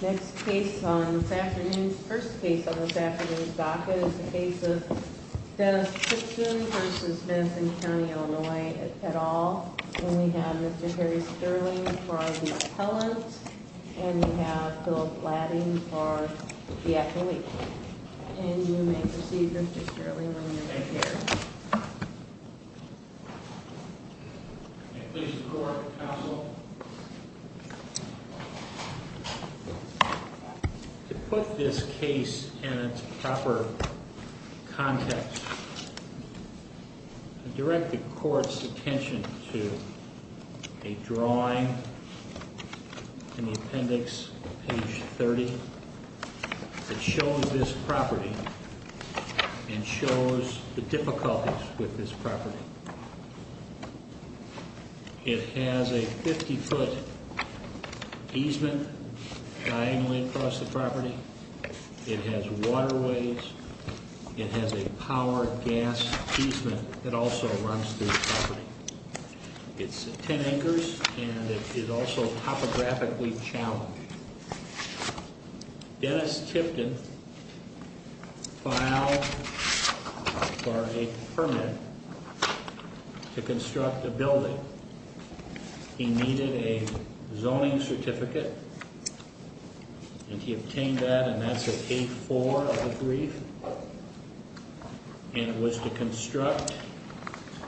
Next case on this afternoon's, first case on this afternoon's docket is the case of Dennis Tipton v. Madison County, Illinois, et al. And we have Mr. Harry Sterling for the appellant. And we have Philip Ladding for the athlete. And you may proceed, Mr. Sterling, when you're ready. Thank you. Please record, counsel. To put this case in its proper context, I direct the court's attention to a drawing in the appendix, page 30, that shows this property and shows the difficulties with this property. It has a 50-foot easement diagonally across the property. It has waterways. It has a power gas easement that also runs through the property. It's 10 acres, and it is also topographically challenged. Dennis Tipton filed for a permit to construct a building. He needed a zoning certificate, and he obtained that, and that's at 8-4 of the brief. And it was to construct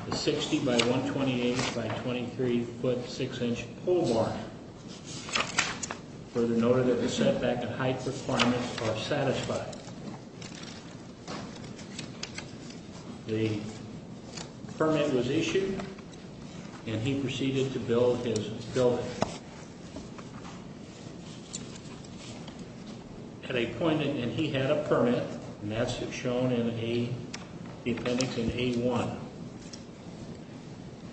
a 60-by-128-by-23-foot, 6-inch pole bar. Further noted that the setback and height requirements are satisfied. The permit was issued, and he proceeded to build his building. At a point, and he had a permit, and that's shown in the appendix in 8-1.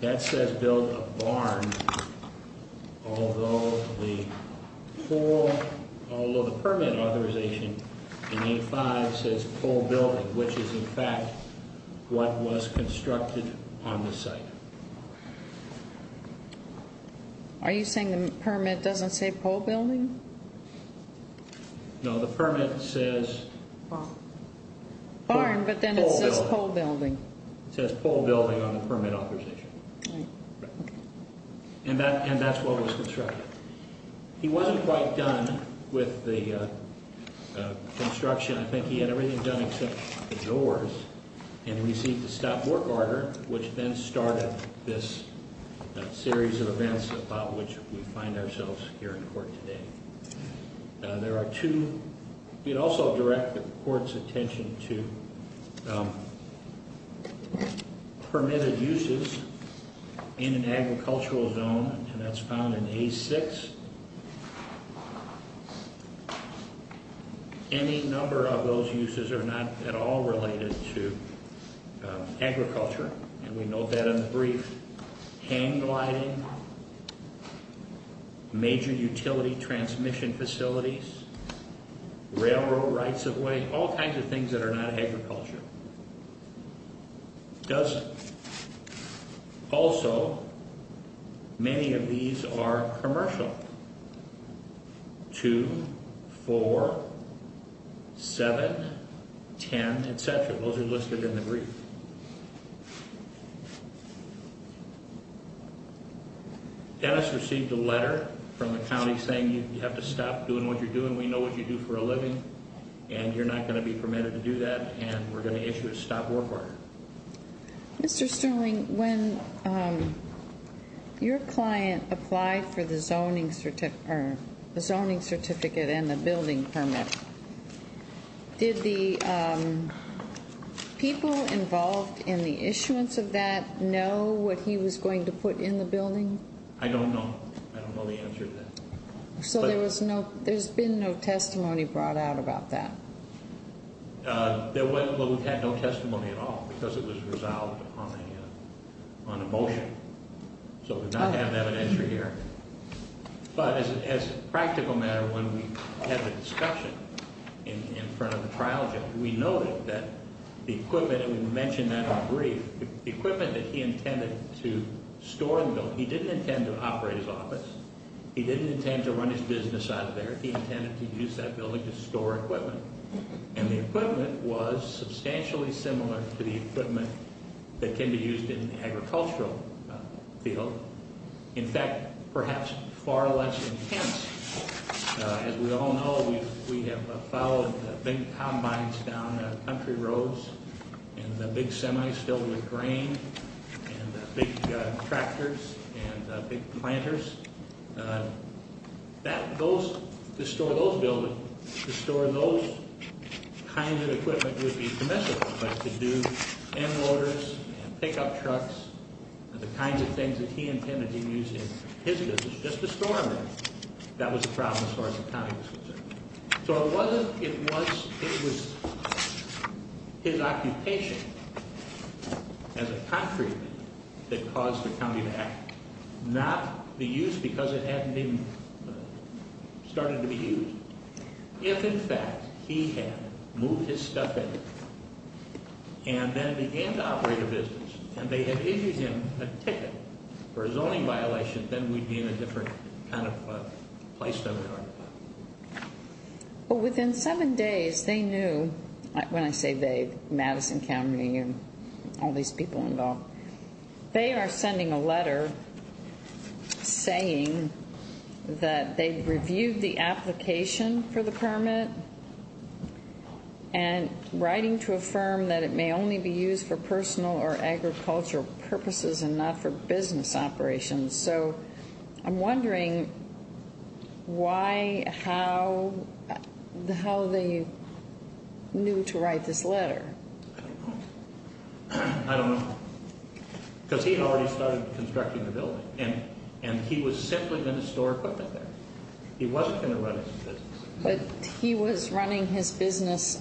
That says build a barn, although the permit authorization in 8-5 says pole building, which is, in fact, what was constructed on the site. Are you saying the permit doesn't say pole building? No, the permit says pole building. It says pole building on the permit authorization. And that's what was constructed. He wasn't quite done with the construction. I think he had everything done except the doors, and he received a stop work order, which then started this series of events about which we find ourselves here in court today. There are two. We'd also direct the court's attention to permitted uses in an agricultural zone, and that's found in A-6. Any number of those uses are not at all related to agriculture, and we note that in the brief. Hand gliding, major utility transmission facilities, railroad rights of way, all kinds of things that are not agriculture. Also, many of these are commercial. 2, 4, 7, 10, et cetera. Those are listed in the brief. Dennis received a letter from the county saying you have to stop doing what you're doing. We know what you do for a living, and you're not going to be permitted to do that, and we're going to issue a stop work order. Mr. Sterling, when your client applied for the zoning certificate and the building permit, did the people involved in the issuance of that know what he was going to put in the building? I don't know. I don't know the answer to that. So there's been no testimony brought out about that? Well, we've had no testimony at all because it was resolved on a motion. So we're not having evidence here. But as a practical matter, when we had the discussion in front of the trial judge, we noted that the equipment, and we mentioned that in the brief, the equipment that he intended to store in the building, he didn't intend to operate his office. He didn't intend to run his business out of there. He intended to use that building to store equipment. And the equipment was substantially similar to the equipment that can be used in the agricultural field. In fact, perhaps far less intense. As we all know, we have followed big combines down country roads and the big semis filled with grain and big tractors and big planters. To store those buildings, to store those kinds of equipment would be commensurate. But to do end loaders and pickup trucks and the kinds of things that he intended to use in his business, just to store them there. That was the problem as far as the county was concerned. So it wasn't, it was his occupation as a concrete man that caused the county to act. Not the use because it hadn't even started to be used. If in fact he had moved his stuff in and then began to operate a business and they had issued him a ticket for a zoning violation, then we'd be in a different kind of place than we are now. Within seven days, they knew, when I say they, Madison County and all these people involved. They are sending a letter saying that they've reviewed the application for the permit and writing to affirm that it may only be used for personal or agricultural purposes and not for business operations. So I'm wondering why, how, how they knew to write this letter. I don't know. Because he already started constructing the building and he was simply going to store equipment there. He wasn't going to run his business. But he was running his business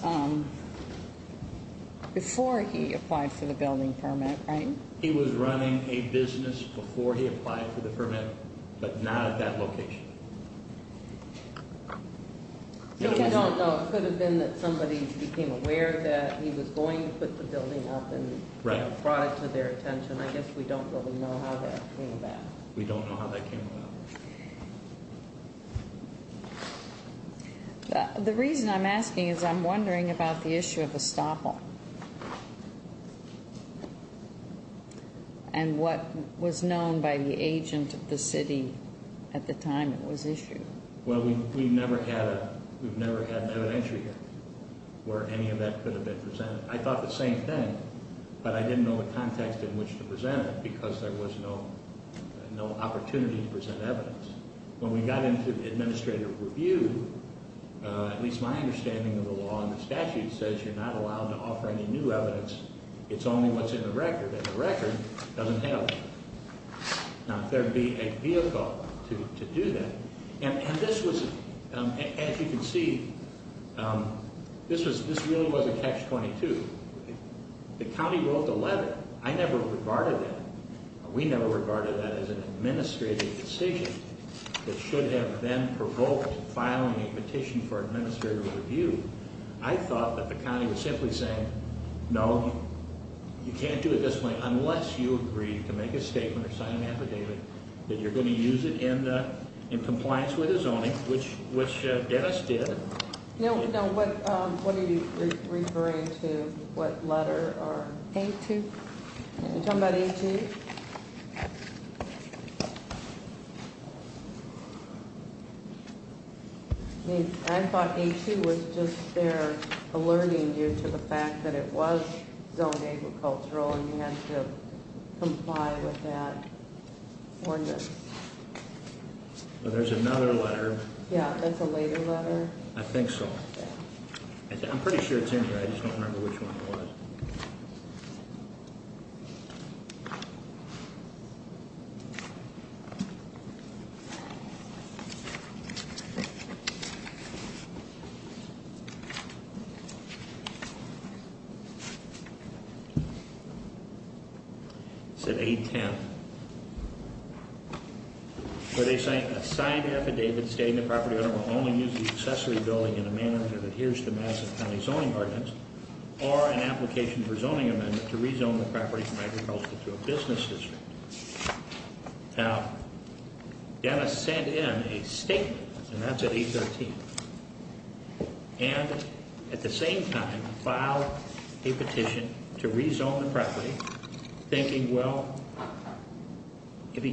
before he applied for the building permit, right? He was running a business before he applied for the permit, but not at that location. We don't know. It could have been that somebody became aware that he was going to put the building up and brought it to their attention. I guess we don't really know how that came about. We don't know how that came about. The reason I'm asking is I'm wondering about the issue of estoppel and what was known by the agent of the city at the time it was issued. Well, we've never had an evidentiary where any of that could have been presented. I thought the same thing, but I didn't know the context in which to present it because there was no opportunity to present evidence. When we got into administrative review, at least my understanding of the law and the statute says you're not allowed to offer any new evidence. It's only what's in the record, and the record doesn't help. Now, there'd be a vehicle to do that. And this was, as you can see, this really was a catch-22. The county wrote the letter. I never regarded that. We never regarded that as an administrative decision that should have then provoked filing a petition for administrative review. I thought that the county was simply saying, no, you can't do it this way unless you agree to make a statement or sign an affidavit that you're going to use it in compliance with the zoning, which Dennis did. What are you referring to? What letter? A-2. You're talking about A-2? I thought A-2 was just there alerting you to the fact that it was zoned agricultural and you had to comply with that ordinance. There's another letter. Yeah, that's a later letter. I think so. I'm pretty sure it's in here. I just don't remember which one it was. It said A-10. They signed an affidavit stating the property owner will only use the accessory building in a manner that adheres to Madison County zoning ordinance or an application for zoning amendment to rezone the property from agricultural to a business district. Now, Dennis sent in a statement, and that's at A-13, and at the same time filed a petition to rezone the property, thinking, well, if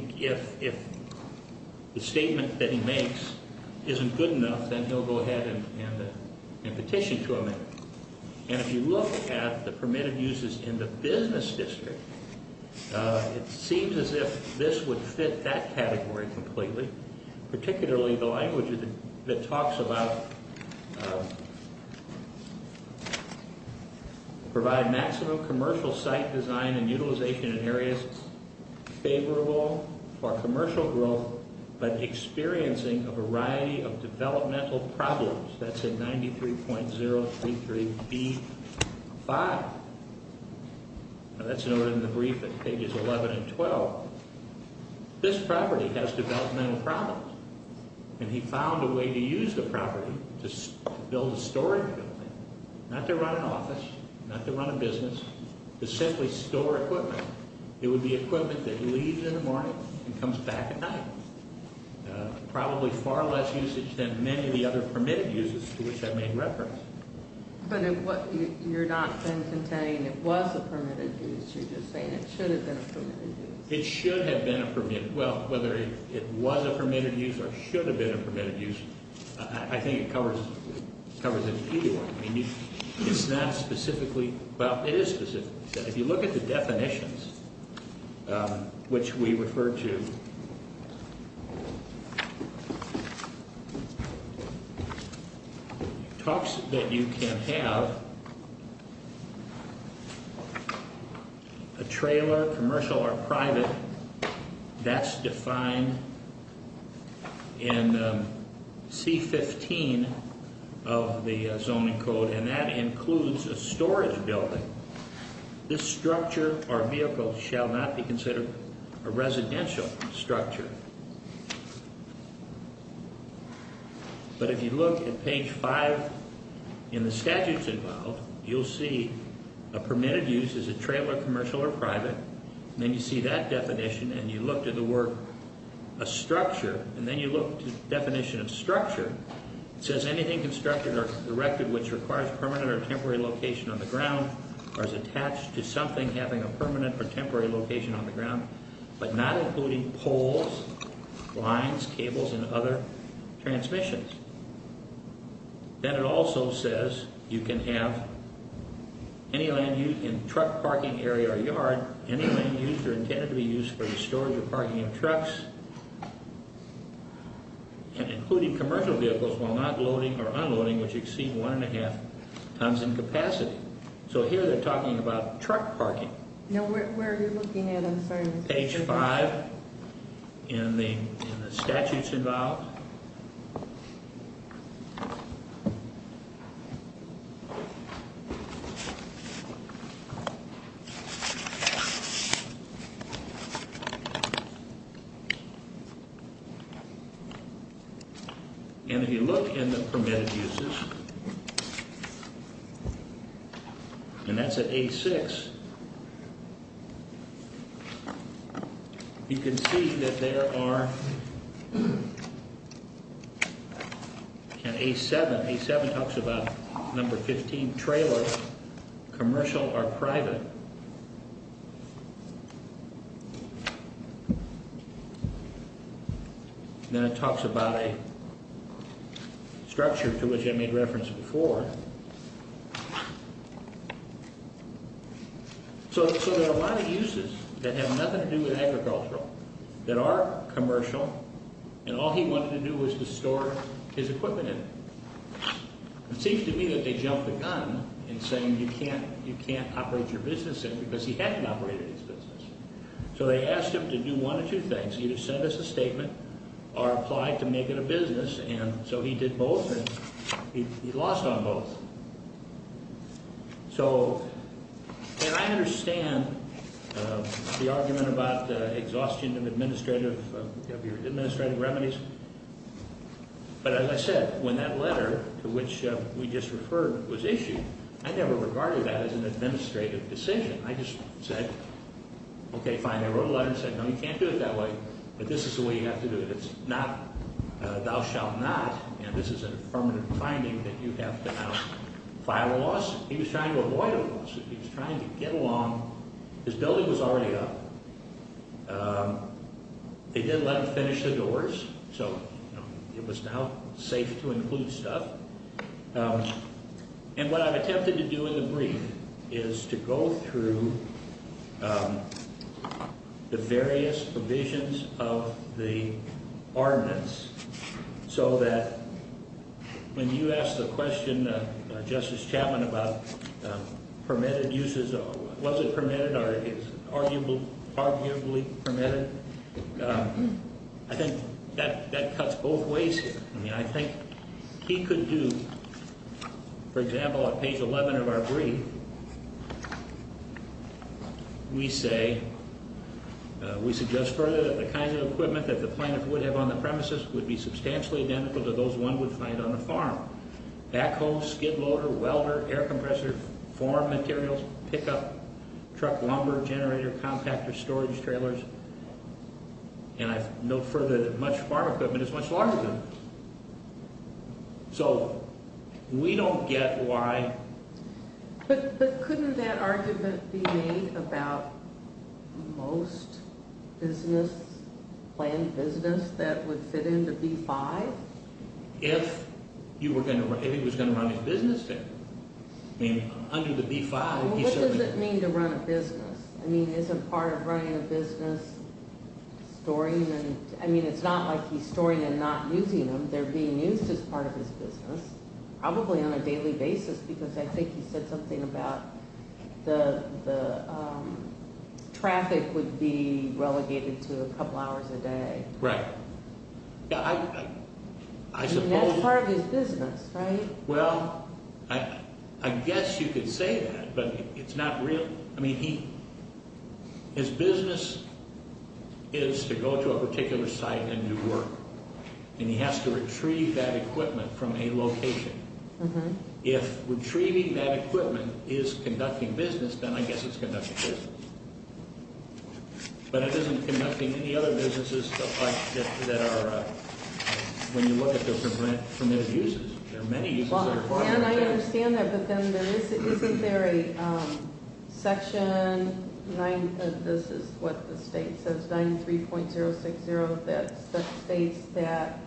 the statement that he makes isn't good enough, then he'll go ahead and petition to amend it. And if you look at the permitted uses in the business district, it seems as if this would fit that category completely, particularly the language that talks about provide maximum commercial site design and utilization in areas favorable for commercial growth but experiencing a variety of developmental problems. That's at 93.033B5. That's noted in the brief at pages 11 and 12. This property has developmental problems, and he found a way to use the property to build a storage building, not to run an office, not to run a business, to simply store equipment. It would be equipment that leaves in the morning and comes back at night, probably far less usage than many of the other permitted uses to which I've made reference. But you're not then saying it was a permitted use. You're just saying it should have been a permitted use. It should have been a permitted use. Well, whether it was a permitted use or should have been a permitted use, I think it covers it in any way. I mean, it's not specifically – well, it is specifically. If you look at the definitions, which we refer to, talks that you can have a trailer, commercial or private, that's defined in C15 of the zoning code, and that includes a storage building. This structure or vehicle shall not be considered a residential structure. But if you look at page 5 in the statutes involved, you'll see a permitted use is a trailer, commercial or private. Then you see that definition, and you look to the word a structure, and then you look to the definition of structure. It says anything constructed or erected which requires permanent or temporary location on the ground or is attached to something having a permanent or temporary location on the ground, but not including poles, lines, cables, and other transmissions. Then it also says you can have any land used in truck parking area or yard, any land used or intended to be used for storage or parking of trucks, and including commercial vehicles while not loading or unloading which exceed one and a half tons in capacity. So here they're talking about truck parking. No, where are you looking at? I'm sorry. Page 5 in the statutes involved. And if you look in the permitted uses, and that's at A6, you can see that there are, and A7, A7 talks about number 15, trailers, commercial or private. Then it talks about a structure to which I made reference before. So there are a lot of uses that have nothing to do with agricultural that are commercial, and all he wanted to do was to store his equipment in it. It seems to me that they jumped the gun in saying you can't operate your business in it because he hadn't operated his business. So they asked him to do one of two things, either send us a statement or apply to make it a business, and so he did both, and he lost on both. So, and I understand the argument about the exhaustion of administrative, of your administrative remedies, but as I said, when that letter to which we just referred was issued, I never regarded that as an administrative decision. I just said, okay, fine. I wrote a letter and said, no, you can't do it that way, but this is the way you have to do it. It's not thou shalt not, and this is an affirmative finding that you have to now file a loss. He was trying to avoid a loss. He was trying to get along. His building was already up. They did let him finish the doors, so it was now safe to include stuff, and what I've attempted to do in the brief is to go through the various provisions of the ordinance so that when you ask the question, Justice Chapman, about permitted uses, was it permitted or is it arguably permitted, I think that cuts both ways here. I mean, I think he could do, for example, at page 11 of our brief, we say, we suggest further that the kinds of equipment that the plaintiff would have on the premises would be substantially identical to those one would find on a farm. Backhoe, skid loader, welder, air compressor, form materials, pickup, truck lumber, generator, compactor, storage, trailers, and I note further that much farm equipment is much larger than this. So we don't get why. But couldn't that argument be made about most business, planned business, that would fit into B-5? If he was going to run his business there. I mean, under the B-5, he certainly could. Well, what does it mean to run a business? I mean, is it part of running a business, storing? I mean, it's not like he's storing and not using them. They're being used as part of his business, probably on a daily basis, because I think he said something about the traffic would be relegated to a couple hours a day. Right. That's part of his business, right? Well, I guess you could say that, but it's not real. I mean, his business is to go to a particular site and do work, and he has to retrieve that equipment from a location. If retrieving that equipment is conducting business, then I guess it's conducting business. But it isn't conducting any other businesses that are, when you look at their permitted uses. There are many uses that are required. I understand that, but then isn't there a section, this is what the state says, 93.060, that states that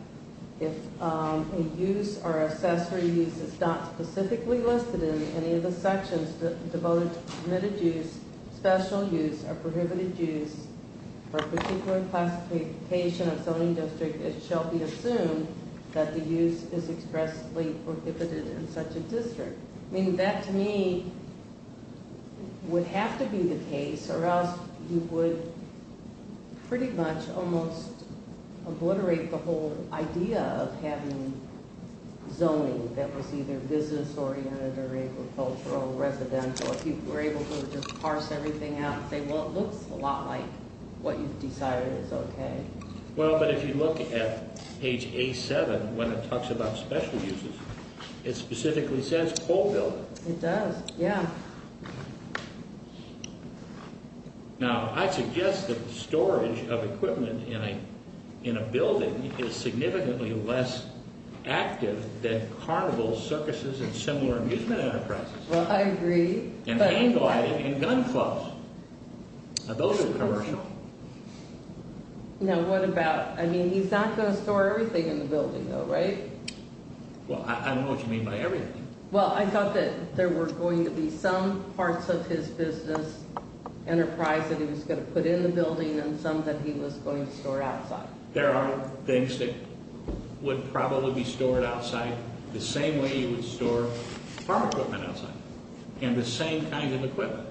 if a use or accessory use is not specifically listed in any of the sections devoted to permitted use, special use or prohibited use for a particular classification of zoning district, it shall be assumed that the use is expressly prohibited in such a district. I mean, that to me would have to be the case, or else you would pretty much almost obliterate the whole idea of having zoning that was either business-oriented or agricultural or residential. If you were able to just parse everything out and say, well, it looks a lot like what you've decided is okay. Well, but if you look at page A7 when it talks about special uses, it specifically says coal building. It does, yeah. Now, I suggest that the storage of equipment in a building is significantly less active than carnivals, circuses, and similar amusement enterprises. Well, I agree. And hand-gliding and gun clubs. Now, those are commercial. Now, what about, I mean, he's not going to store everything in the building, though, right? Well, I don't know what you mean by everything. Well, I thought that there were going to be some parts of his business enterprise that he was going to put in the building and some that he was going to store outside. There are things that would probably be stored outside the same way you would store farm equipment outside and the same kind of equipment.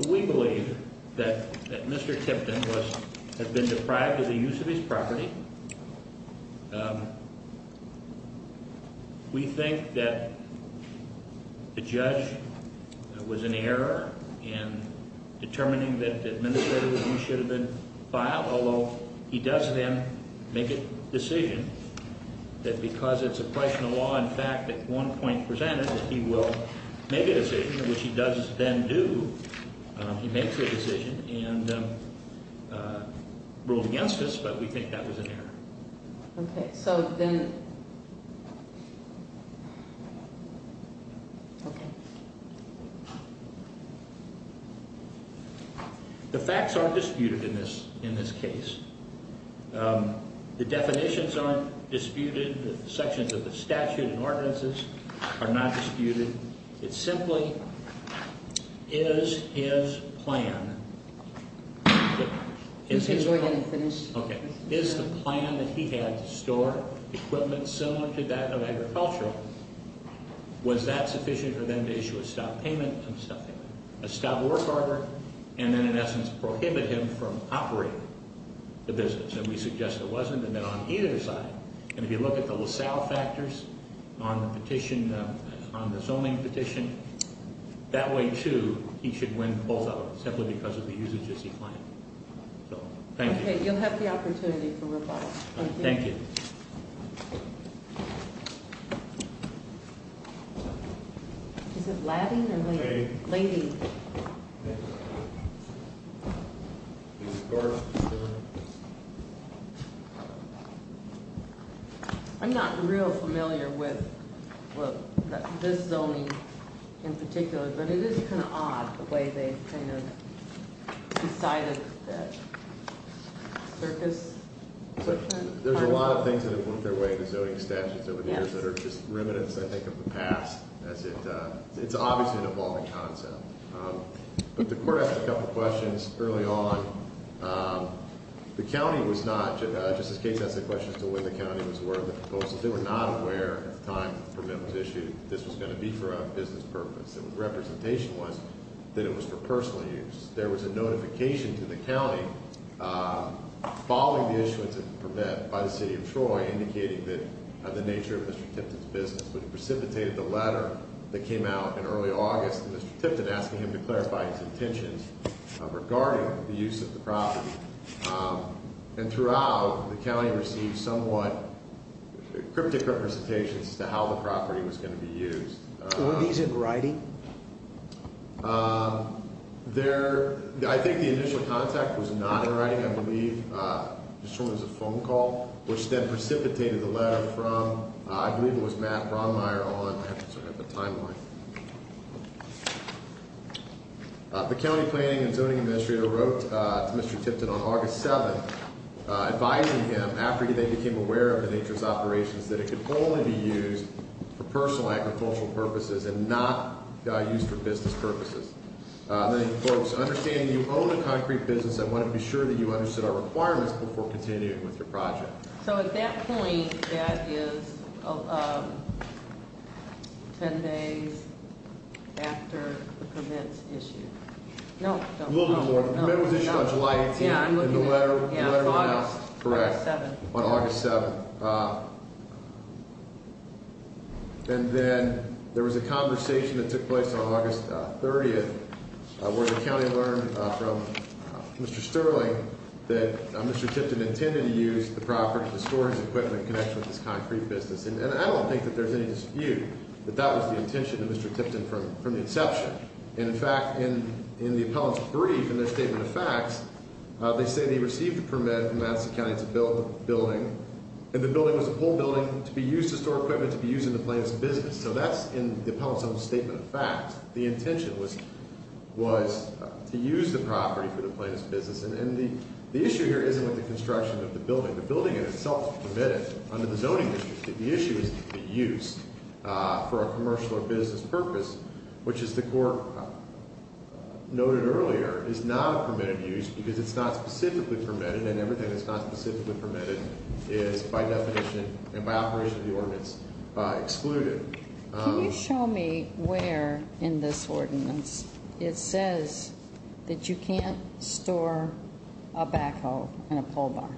So we believe that Mr. Tipton has been deprived of the use of his property. We think that the judge was in error in determining that the administrative review should have been filed, although he does then make a decision that because it's a question of law, in fact, at one point presented that he will make a decision, which he does then do. He makes a decision and ruled against us, but we think that was an error. The facts aren't disputed in this case. The definitions aren't disputed. The sections of the statute and ordinances are not disputed. It simply is his plan that he had to store equipment similar to that of agriculture. Was that sufficient for them to issue a stop work order and then, in essence, prohibit him from operating the business? And we suggest it wasn't, and then on either side. And if you look at the LaSalle factors on the petition, on the zoning petition, that way, too, he should win both of them simply because of the usages he planned. So, thank you. Okay, you'll have the opportunity for rebuttal. Thank you. Is it laddie or lady? Lady. Lady. I'm not real familiar with this zoning in particular, but it is kind of odd the way they kind of decided that circus. There's a lot of things that have worked their way into zoning statutes over the years that are just remnants, I think, of the past. It's obviously an evolving concept. But the court asked a couple questions early on. The county was not, Justice Gates asked a question as to when the county was aware of the proposal. They were not aware at the time the permit was issued that this was going to be for a business purpose. The representation was that it was for personal use. There was a notification to the county following the issuance of the permit by the city of Troy indicating the nature of Mr. Tipton's business. But he precipitated the letter that came out in early August, Mr. Tipton, asking him to clarify his intentions regarding the use of the property. And throughout, the county received somewhat cryptic representations as to how the property was going to be used. Were these in writing? I think the initial contact was not in writing, I believe. This one was a phone call, which then precipitated the letter from, I believe it was Matt Bronmeier, The county planning and zoning administrator wrote to Mr. Tipton on August 7, advising him, after they became aware of the nature of his operations, that it could only be used for personal agricultural purposes and not used for business purposes. Folks, understanding you own a concrete business, I want to be sure that you understood our requirements before continuing with your project. So at that point, that is 10 days after the permit's issued? No. The permit was issued on July 18th, and the letter went out on August 7th. And then there was a conversation that took place on August 30th, where the county learned from Mr. Sterling that Mr. Tipton intended to use the property to store his equipment in connection with this concrete business. And I don't think that there's any dispute that that was the intention of Mr. Tipton from the inception. And in fact, in the appellant's brief, in their statement of facts, they say they received a permit from Madison County to build the building, and the building was a whole building to be used to store equipment to be used in the plaintiff's business. So that's in the appellant's own statement of facts. The intention was to use the property for the plaintiff's business. And the issue here isn't with the construction of the building. The building in itself is permitted under the zoning district. The issue is the use for a commercial or business purpose, which, as the court noted earlier, is not a permitted use because it's not specifically permitted, and everything that's not specifically permitted is, by definition and by operation of the ordinance, excluded. Can you show me where in this ordinance it says that you can't store a backhoe and a pole bar?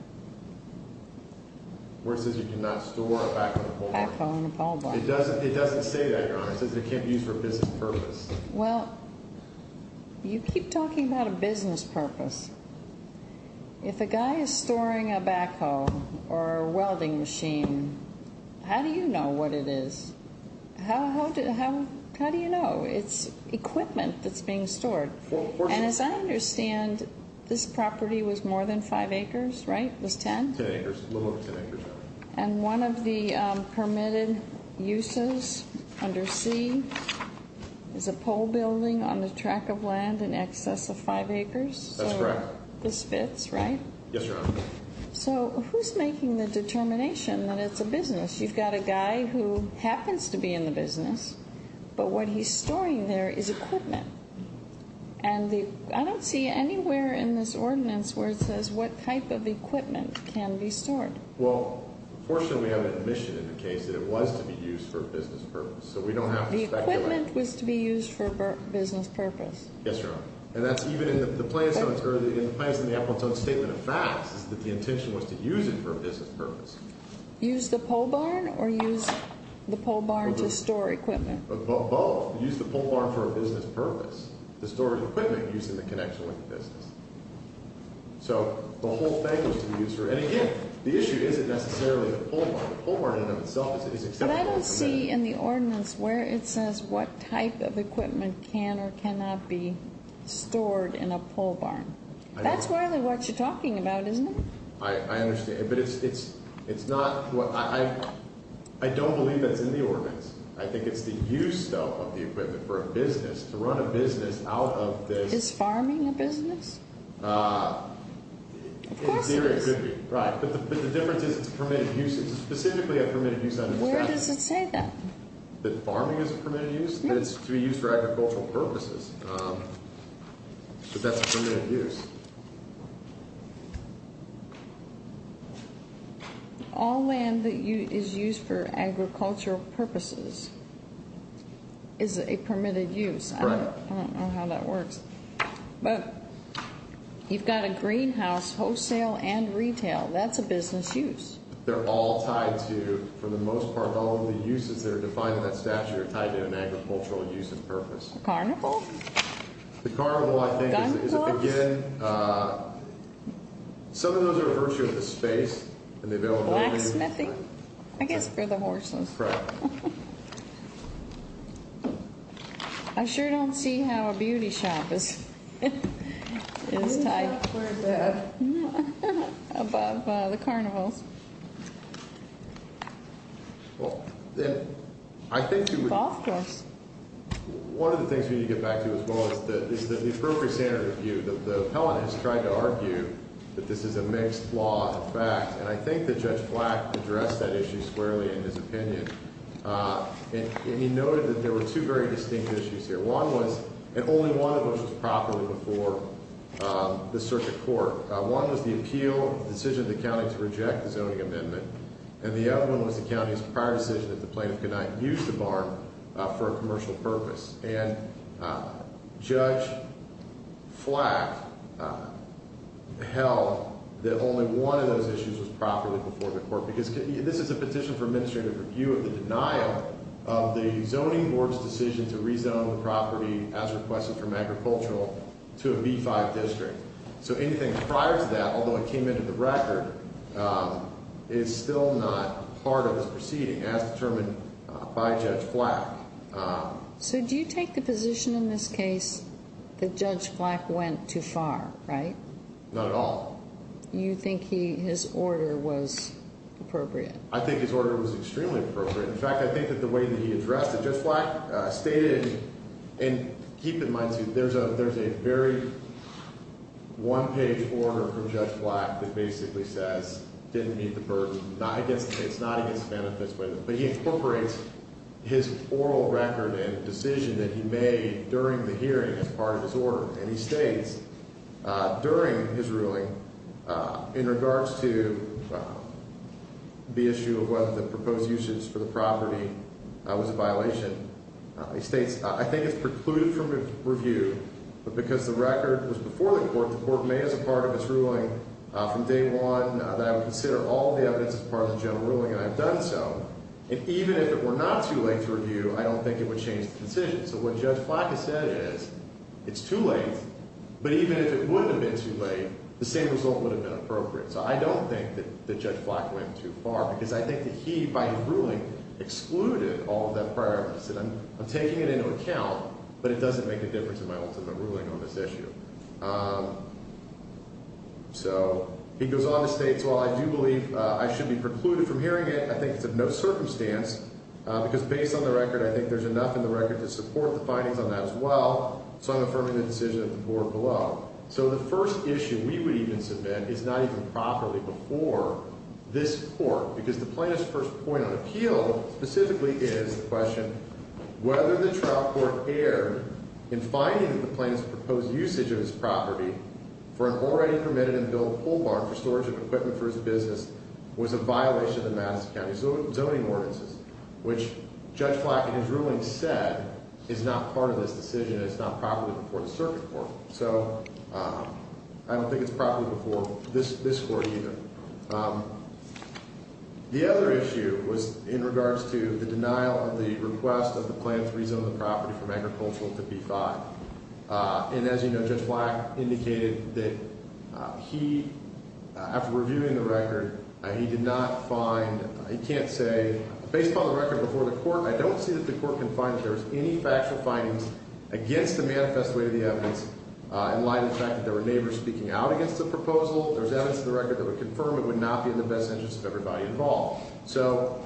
Where it says you cannot store a backhoe and a pole bar? Backhoe and a pole bar. It doesn't say that, Your Honor. It says it can't be used for a business purpose. Well, you keep talking about a business purpose. If a guy is storing a backhoe or a welding machine, how do you know what it is? How do you know? It's equipment that's being stored. And as I understand, this property was more than five acres, right? It was ten? Ten acres. A little over ten acres. And one of the permitted uses under C is a pole building on the track of land in excess of five acres? That's correct. So this fits, right? Yes, Your Honor. So who's making the determination that it's a business? You've got a guy who happens to be in the business, but what he's storing there is equipment. And I don't see anywhere in this ordinance where it says what type of equipment can be stored. Well, unfortunately, we have an admission in the case that it was to be used for a business purpose. So we don't have to speculate. The equipment was to be used for a business purpose. Yes, Your Honor. And that's even in the plaintiff's statement of facts is that the intention was to use it for a business purpose. Use the pole barn or use the pole barn to store equipment? Both. Use the pole barn for a business purpose. To store equipment using the connection with the business. So the whole thing was to be used for, and again, the issue isn't necessarily the pole barn. The pole barn in and of itself is acceptable. But I don't see in the ordinance where it says what type of equipment can or cannot be stored in a pole barn. That's really what you're talking about, isn't it? I understand. But it's not what – I don't believe that's in the ordinance. I think it's the use, though, of the equipment for a business, to run a business out of this. Is farming a business? Of course it is. In theory it could be, right. But the difference is it's a permitted use. Where does it say that? That farming is a permitted use, that it's to be used for agricultural purposes. But that's a permitted use. All land that is used for agricultural purposes is a permitted use. Correct. I don't know how that works. But you've got a greenhouse, wholesale and retail. That's a business use. They're all tied to, for the most part, all of the uses that are defined in that statute are tied to an agricultural use and purpose. Carnival? The carnival, I think, is, again, some of those are a virtue of the space and the availability. Blacksmithing? I guess for the horses. Correct. I sure don't see how a beauty shop is tied. It's not quite that. Above the carnivals. Well, then, I think you would. Of course. One of the things we need to get back to as well is the appropriate standard of view. The appellant has tried to argue that this is a mixed law of fact. And I think that Judge Flack addressed that issue squarely in his opinion. And he noted that there were two very distinct issues here. One was, and only one of those was properly before the circuit court. One was the appeal decision of the county to reject the zoning amendment. And the other one was the county's prior decision that the plaintiff could not use the barn for a commercial purpose. And Judge Flack held that only one of those issues was properly before the court. Because this is a petition for administrative review of the denial of the zoning board's decision to rezone the property as requested from agricultural to a B-5 district. So anything prior to that, although it came into the record, is still not part of this proceeding as determined by Judge Flack. So do you take the position in this case that Judge Flack went too far, right? Not at all. You think his order was appropriate? I think his order was extremely appropriate. In fact, I think that the way that he addressed it, Judge Flack stated, and keep in mind too, there's a very one-page order from Judge Flack that basically says, didn't meet the burden. It's not against the benefits. But he incorporates his oral record and decision that he made during the hearing as part of his order. And he states during his ruling in regards to the issue of whether the proposed uses for the property was a violation. He states, I think it's precluded from review. But because the record was before the court, the court made as a part of its ruling from day one that I would consider all the evidence as part of the general ruling. And I've done so. And even if it were not too late to review, I don't think it would change the decision. So what Judge Flack has said is, it's too late. But even if it would have been too late, the same result would have been appropriate. So I don't think that Judge Flack went too far. Because I think that he, by his ruling, excluded all of that prior evidence. I'm taking it into account. But it doesn't make a difference in my ultimate ruling on this issue. So he goes on to state, while I do believe I should be precluded from hearing it, I think it's of no circumstance. Because based on the record, I think there's enough in the record to support the findings on that as well. So I'm affirming the decision of the board below. So the first issue we would even submit is not even properly before this court. Because the plaintiff's first point of appeal, specifically, is the question, whether the trial court erred in finding that the plaintiff's proposed usage of his property for an already permitted in the billed pool barn for storage of equipment for his business was a violation of the Madison County zoning ordinances. Which Judge Flack, in his ruling, said is not part of this decision. It's not properly before the circuit court. So I don't think it's properly before this court either. The other issue was in regards to the denial of the request of the plaintiff's rezone of the property from agricultural to B-5. And as you know, Judge Flack indicated that he, after reviewing the record, he did not find, he can't say, based upon the record before the court, I don't see that the court can find that there's any factual findings against the manifest way of the evidence in light of the fact that there were neighbors speaking out against the proposal. There's evidence in the record that would confirm it would not be in the best interest of everybody involved. So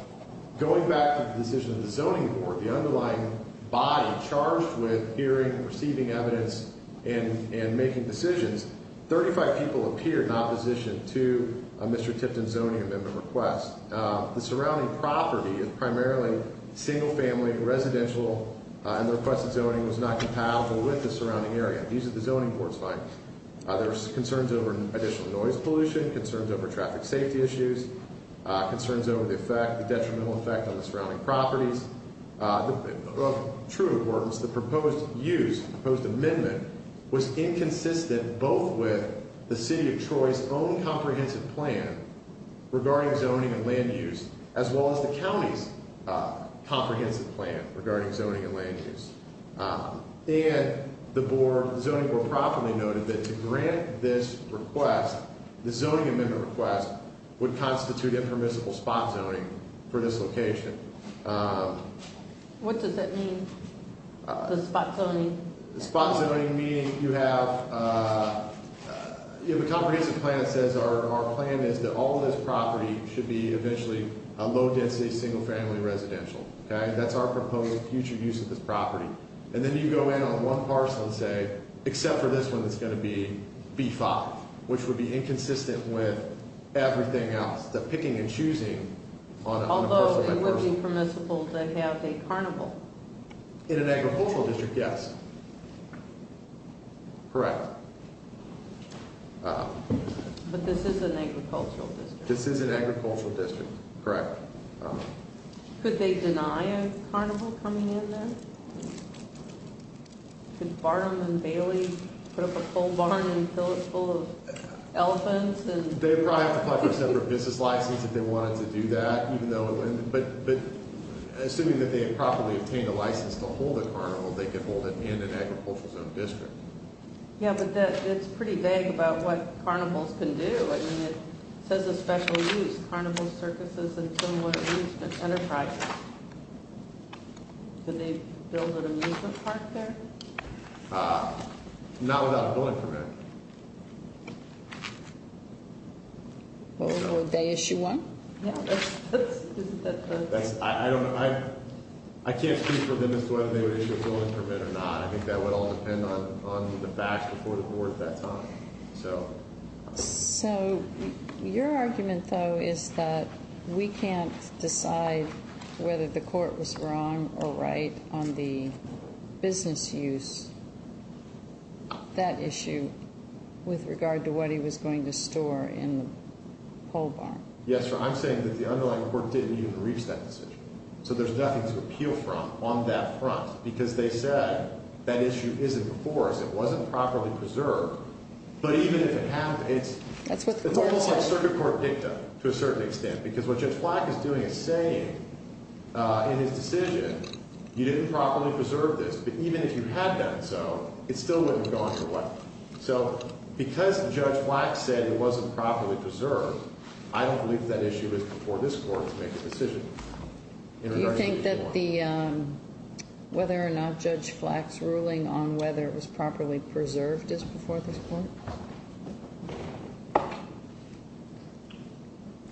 going back to the decision of the zoning board, the underlying body charged with hearing, receiving evidence, and making decisions, 35 people appeared in opposition to Mr. Tipton's zoning amendment request. The surrounding property, primarily single family, residential, and the requested zoning was not compatible with the surrounding area. These are the zoning board's findings. There were concerns over additional noise pollution, concerns over traffic safety issues, concerns over the effect, the detrimental effect on the surrounding properties. Of true importance, the proposed use, proposed amendment, was inconsistent both with the city of Troy's own comprehensive plan regarding zoning and land use, as well as the county's comprehensive plan regarding zoning and land use. And the zoning board properly noted that to grant this request, the zoning amendment request, would constitute impermissible spot zoning for this location. What does that mean? The spot zoning? The spot zoning meaning you have, you have a comprehensive plan that says our plan is that all of this property should be eventually a low density single family residential. That's our proposed future use of this property. And then you go in on one parcel and say, except for this one, it's going to be B5, which would be inconsistent with everything else. Although it would be permissible to have a carnival. In an agricultural district, yes. Correct. But this is an agricultural district. This is an agricultural district, correct. Could they deny a carnival coming in then? Could Barnum and Bailey put up a full barn and fill it full of elephants? They'd probably have to apply for a separate business license if they wanted to do that. But assuming that they had properly obtained a license to hold a carnival, they could hold it in an agricultural zone district. Yeah, but that's pretty vague about what carnivals can do. I mean, it says a special use, carnival circuses and similar entertainment enterprises. Could they build an amusement park there? Not without a building permit. Would they issue one? I can't speak for them as to whether they would issue a building permit or not. I think that would all depend on the facts before the board at that time. So your argument, though, is that we can't decide whether the court was wrong or right on the business use, that issue, with regard to what he was going to store in the pole barn. Yes, sir. I'm saying that the underlying court didn't even reach that decision. So there's nothing to appeal from on that front because they said that issue isn't before us. It wasn't properly preserved. But even if it happened, it's almost like circuit court dicta to a certain extent, because what Judge Flack is doing is saying in his decision, you didn't properly preserve this. But even if you had done so, it still wouldn't have gone your way. So because Judge Flack said it wasn't properly preserved, I don't believe that issue is before this court to make a decision. Do you think that the whether or not Judge Flack's ruling on whether it was properly preserved is before this court?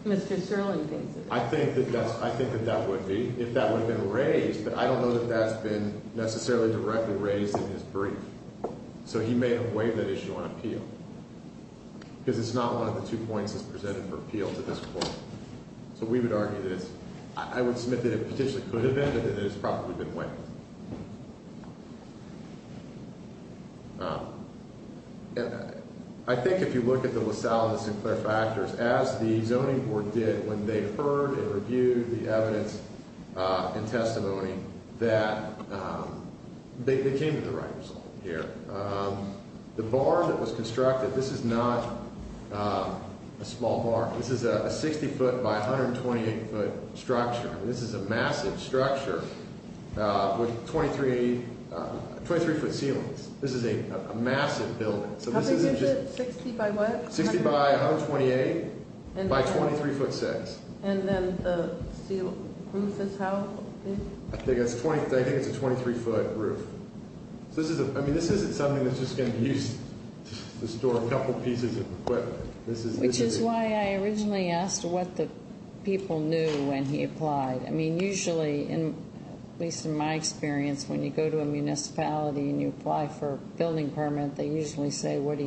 Mr. Sterling thinks it is. I think that that would be, if that would have been raised. But I don't know that that's been necessarily directly raised in his brief. So he may have waived that issue on appeal. Because it's not one of the two points that's presented for appeal to this court. So we would argue that it's, I would submit that it potentially could have been, but that it has probably been waived. I think if you look at the Los Alamos and Claire factors, as the zoning board did when they heard and reviewed the evidence and testimony, that they came to the right result here. The barn that was constructed, this is not a small barn. This is a 60 foot by 128 foot structure. This is a massive structure with 23 foot ceilings. This is a massive building. How big is it, 60 by what? 60 by 128 by 23 foot 6. And then the roof is how big? I think it's a 23 foot roof. I mean, this isn't something that's just going to be used to store a couple pieces of equipment. Which is why I originally asked what the people knew when he applied. I mean, usually, at least in my experience, when you go to a municipality and you apply for a building permit, they usually say, what are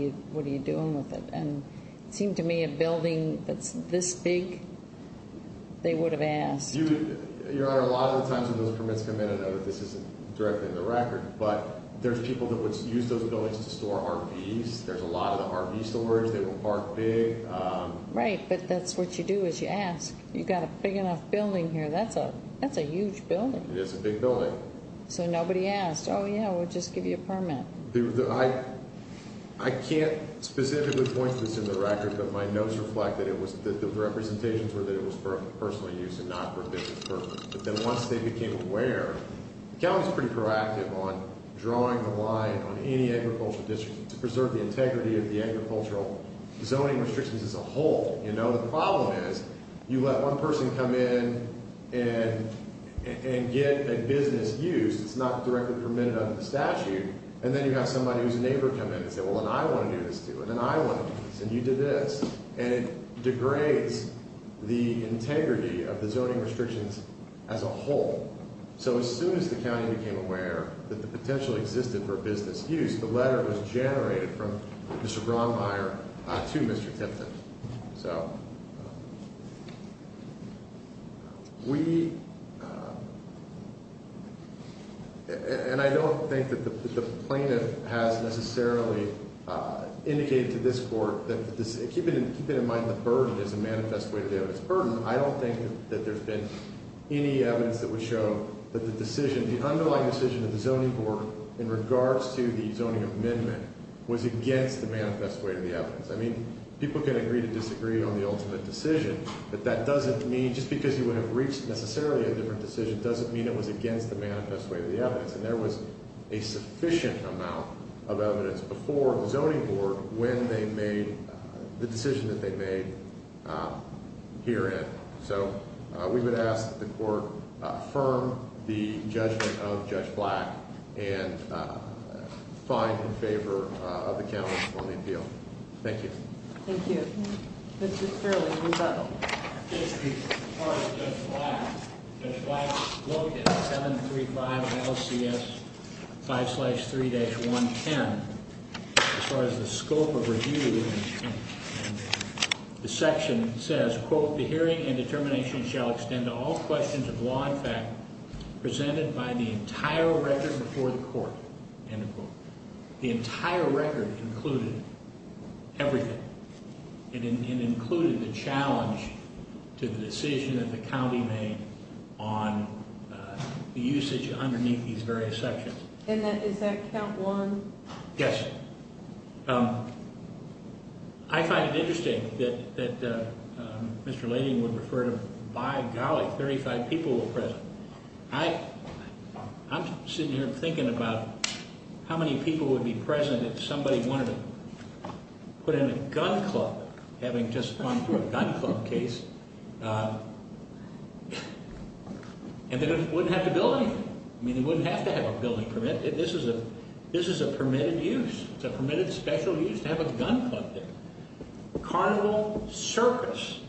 you doing with it? And it seemed to me a building that's this big, they would have asked. Your Honor, a lot of the times when those permits come in, I know that this isn't directly in the record. But there's people that would use those buildings to store RVs. There's a lot of the RV storage they would park big. Right, but that's what you do is you ask. You've got a big enough building here, that's a huge building. It is a big building. So nobody asked, oh yeah, we'll just give you a permit. I can't specifically point to this in the record, but my notes reflect that the representations were that it was for personal use and not for business purposes. But then once they became aware, the county's pretty proactive on drawing the line on any agricultural district to preserve the integrity of the agricultural zoning restrictions as a whole. The problem is you let one person come in and get a business use that's not directly permitted under the statute. And then you have somebody who's a neighbor come in and say, well, then I want to do this too. And then I want to do this. And you did this. And it degrades the integrity of the zoning restrictions as a whole. So as soon as the county became aware that the potential existed for business use, the letter was generated from Mr. Braunmeier to Mr. Tipton. So we, and I don't think that the plaintiff has necessarily indicated to this court that this, keeping in mind the burden is a manifest way to deal with this burden. I don't think that there's been any evidence that would show that the decision, the underlying decision of the zoning board in regards to the zoning amendment was against the manifest way to the evidence. I mean, people can agree to disagree on the ultimate decision. But that doesn't mean, just because you would have reached necessarily a different decision doesn't mean it was against the manifest way to the evidence. And there was a sufficient amount of evidence before the zoning board when they made the decision that they made herein. So we would ask that the court affirm the judgment of Judge Black and find in favor of the count on the appeal. Thank you. Thank you. This is fairly rebuttal. As far as Judge Black, Judge Black wrote in 735 ILCS 5-3-110. As far as the scope of review, the section says, quote, the hearing and determination shall extend to all questions of law and fact presented by the entire record before the court. End of quote. The entire record included everything. It included the challenge to the decision that the county made on the usage underneath these various sections. And is that count one? Yes. I find it interesting that Mr. Layden would refer to, by golly, 35 people were present. I'm sitting here thinking about how many people would be present if somebody wanted to put in a gun club, having just gone through a gun club case, and they wouldn't have to build anything. I mean, they wouldn't have to have a building permit. This is a permitted use. It's a permitted special use to have a gun club there. Carnival circus.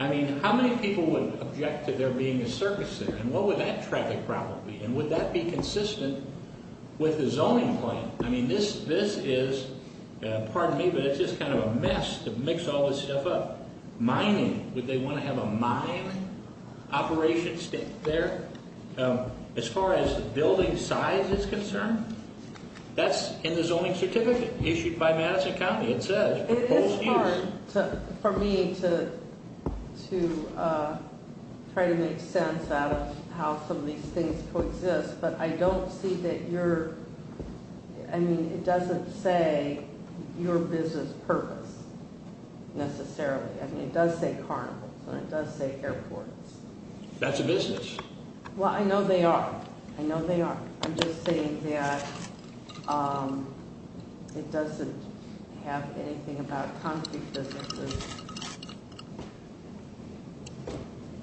I mean, how many people would object to there being a circus there? And what would that traffic problem be? And would that be consistent with the zoning plan? I mean, this is, pardon me, but it's just kind of a mess to mix all this stuff up. Mining, would they want to have a mine operation there? As far as building size is concerned, that's in the zoning certificate issued by Madison County. It is hard for me to try to make sense out of how some of these things coexist. But I don't see that you're, I mean, it doesn't say your business purpose necessarily. I mean, it does say carnivals, and it does say airports. That's a business. Well, I know they are. I know they are. I'm just saying that it doesn't have anything about concrete businesses.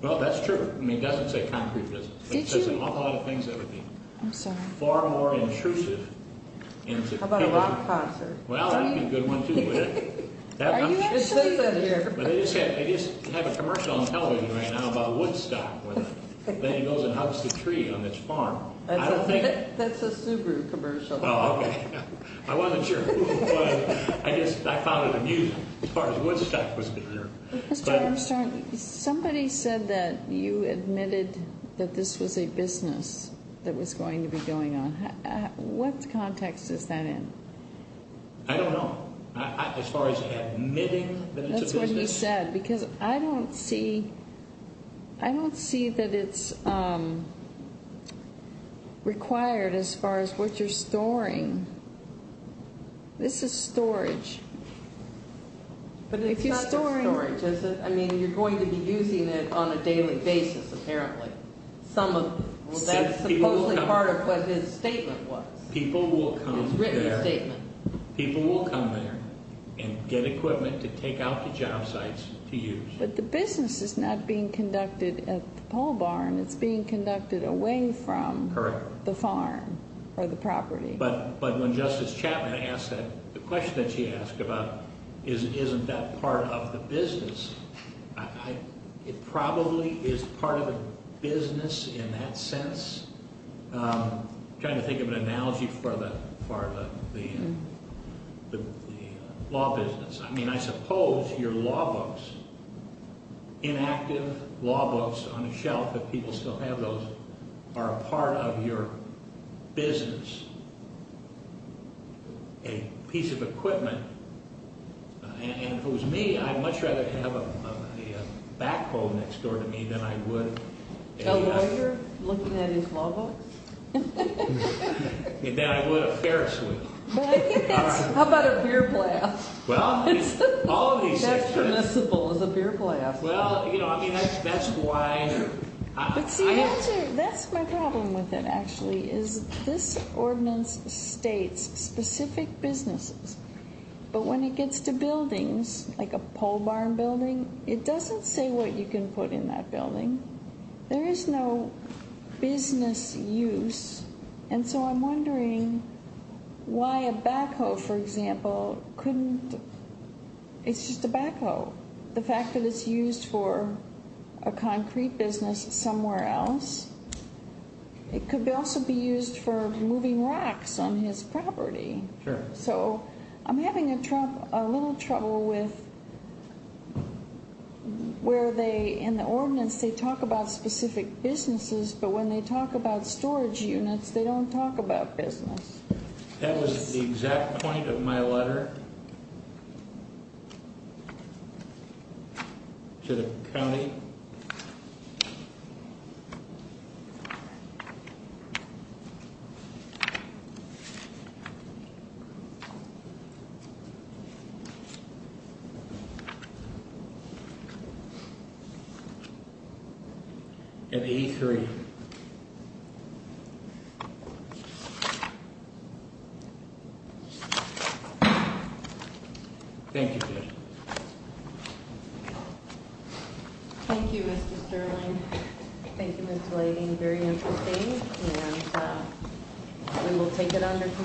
Well, that's true. I mean, it doesn't say concrete business. It says an awful lot of things that would be far more intrusive. How about a rock concert? Well, that would be a good one, too, wouldn't it? Are you actually? But they just have a commercial on television right now about Woodstock. Then he goes and hugs the tree on this farm. That's a Subaru commercial. Oh, okay. I wasn't sure. But I guess I found it amusing as far as Woodstock was concerned. Mr. Armstrong, somebody said that you admitted that this was a business that was going to be going on. What context is that in? I don't know. As far as admitting that it's a business. I don't see that it's required as far as what you're storing. This is storage. But it's not just storage, is it? I mean, you're going to be using it on a daily basis, apparently. Well, that's supposedly part of what his statement was. His written statement. People will come there and get equipment to take out to job sites to use. But the business is not being conducted at the pole barn. It's being conducted away from the farm or the property. But when Justice Chapman asked that question that she asked about, isn't that part of the business? It probably is part of the business in that sense. I'm trying to think of an analogy for the law business. I mean, I suppose your law books, inactive law books on a shelf, if people still have those, are a part of your business. A piece of equipment. And if it was me, I'd much rather have a backhoe next door to me than I would. So the way you're looking at his law books? Than I would a ferris wheel. How about a beer blast? That's permissible is a beer blast. Well, you know, I mean, that's why. But see, that's my problem with it, actually, is this ordinance states specific businesses. But when it gets to buildings like a pole barn building, it doesn't say what you can put in that building. There is no business use. And so I'm wondering why a backhoe, for example, couldn't. It's just a backhoe. The fact that it's used for a concrete business somewhere else. It could also be used for moving rocks on his property. Sure. So I'm having a little trouble with where they in the ordinance, they talk about specific businesses. But when they talk about storage units, they don't talk about business. That was the exact point of my letter. To the county. Thank you. Thank you, Mr. Sterling. Thank you, Mr. Lady. Very interesting. We will take it under.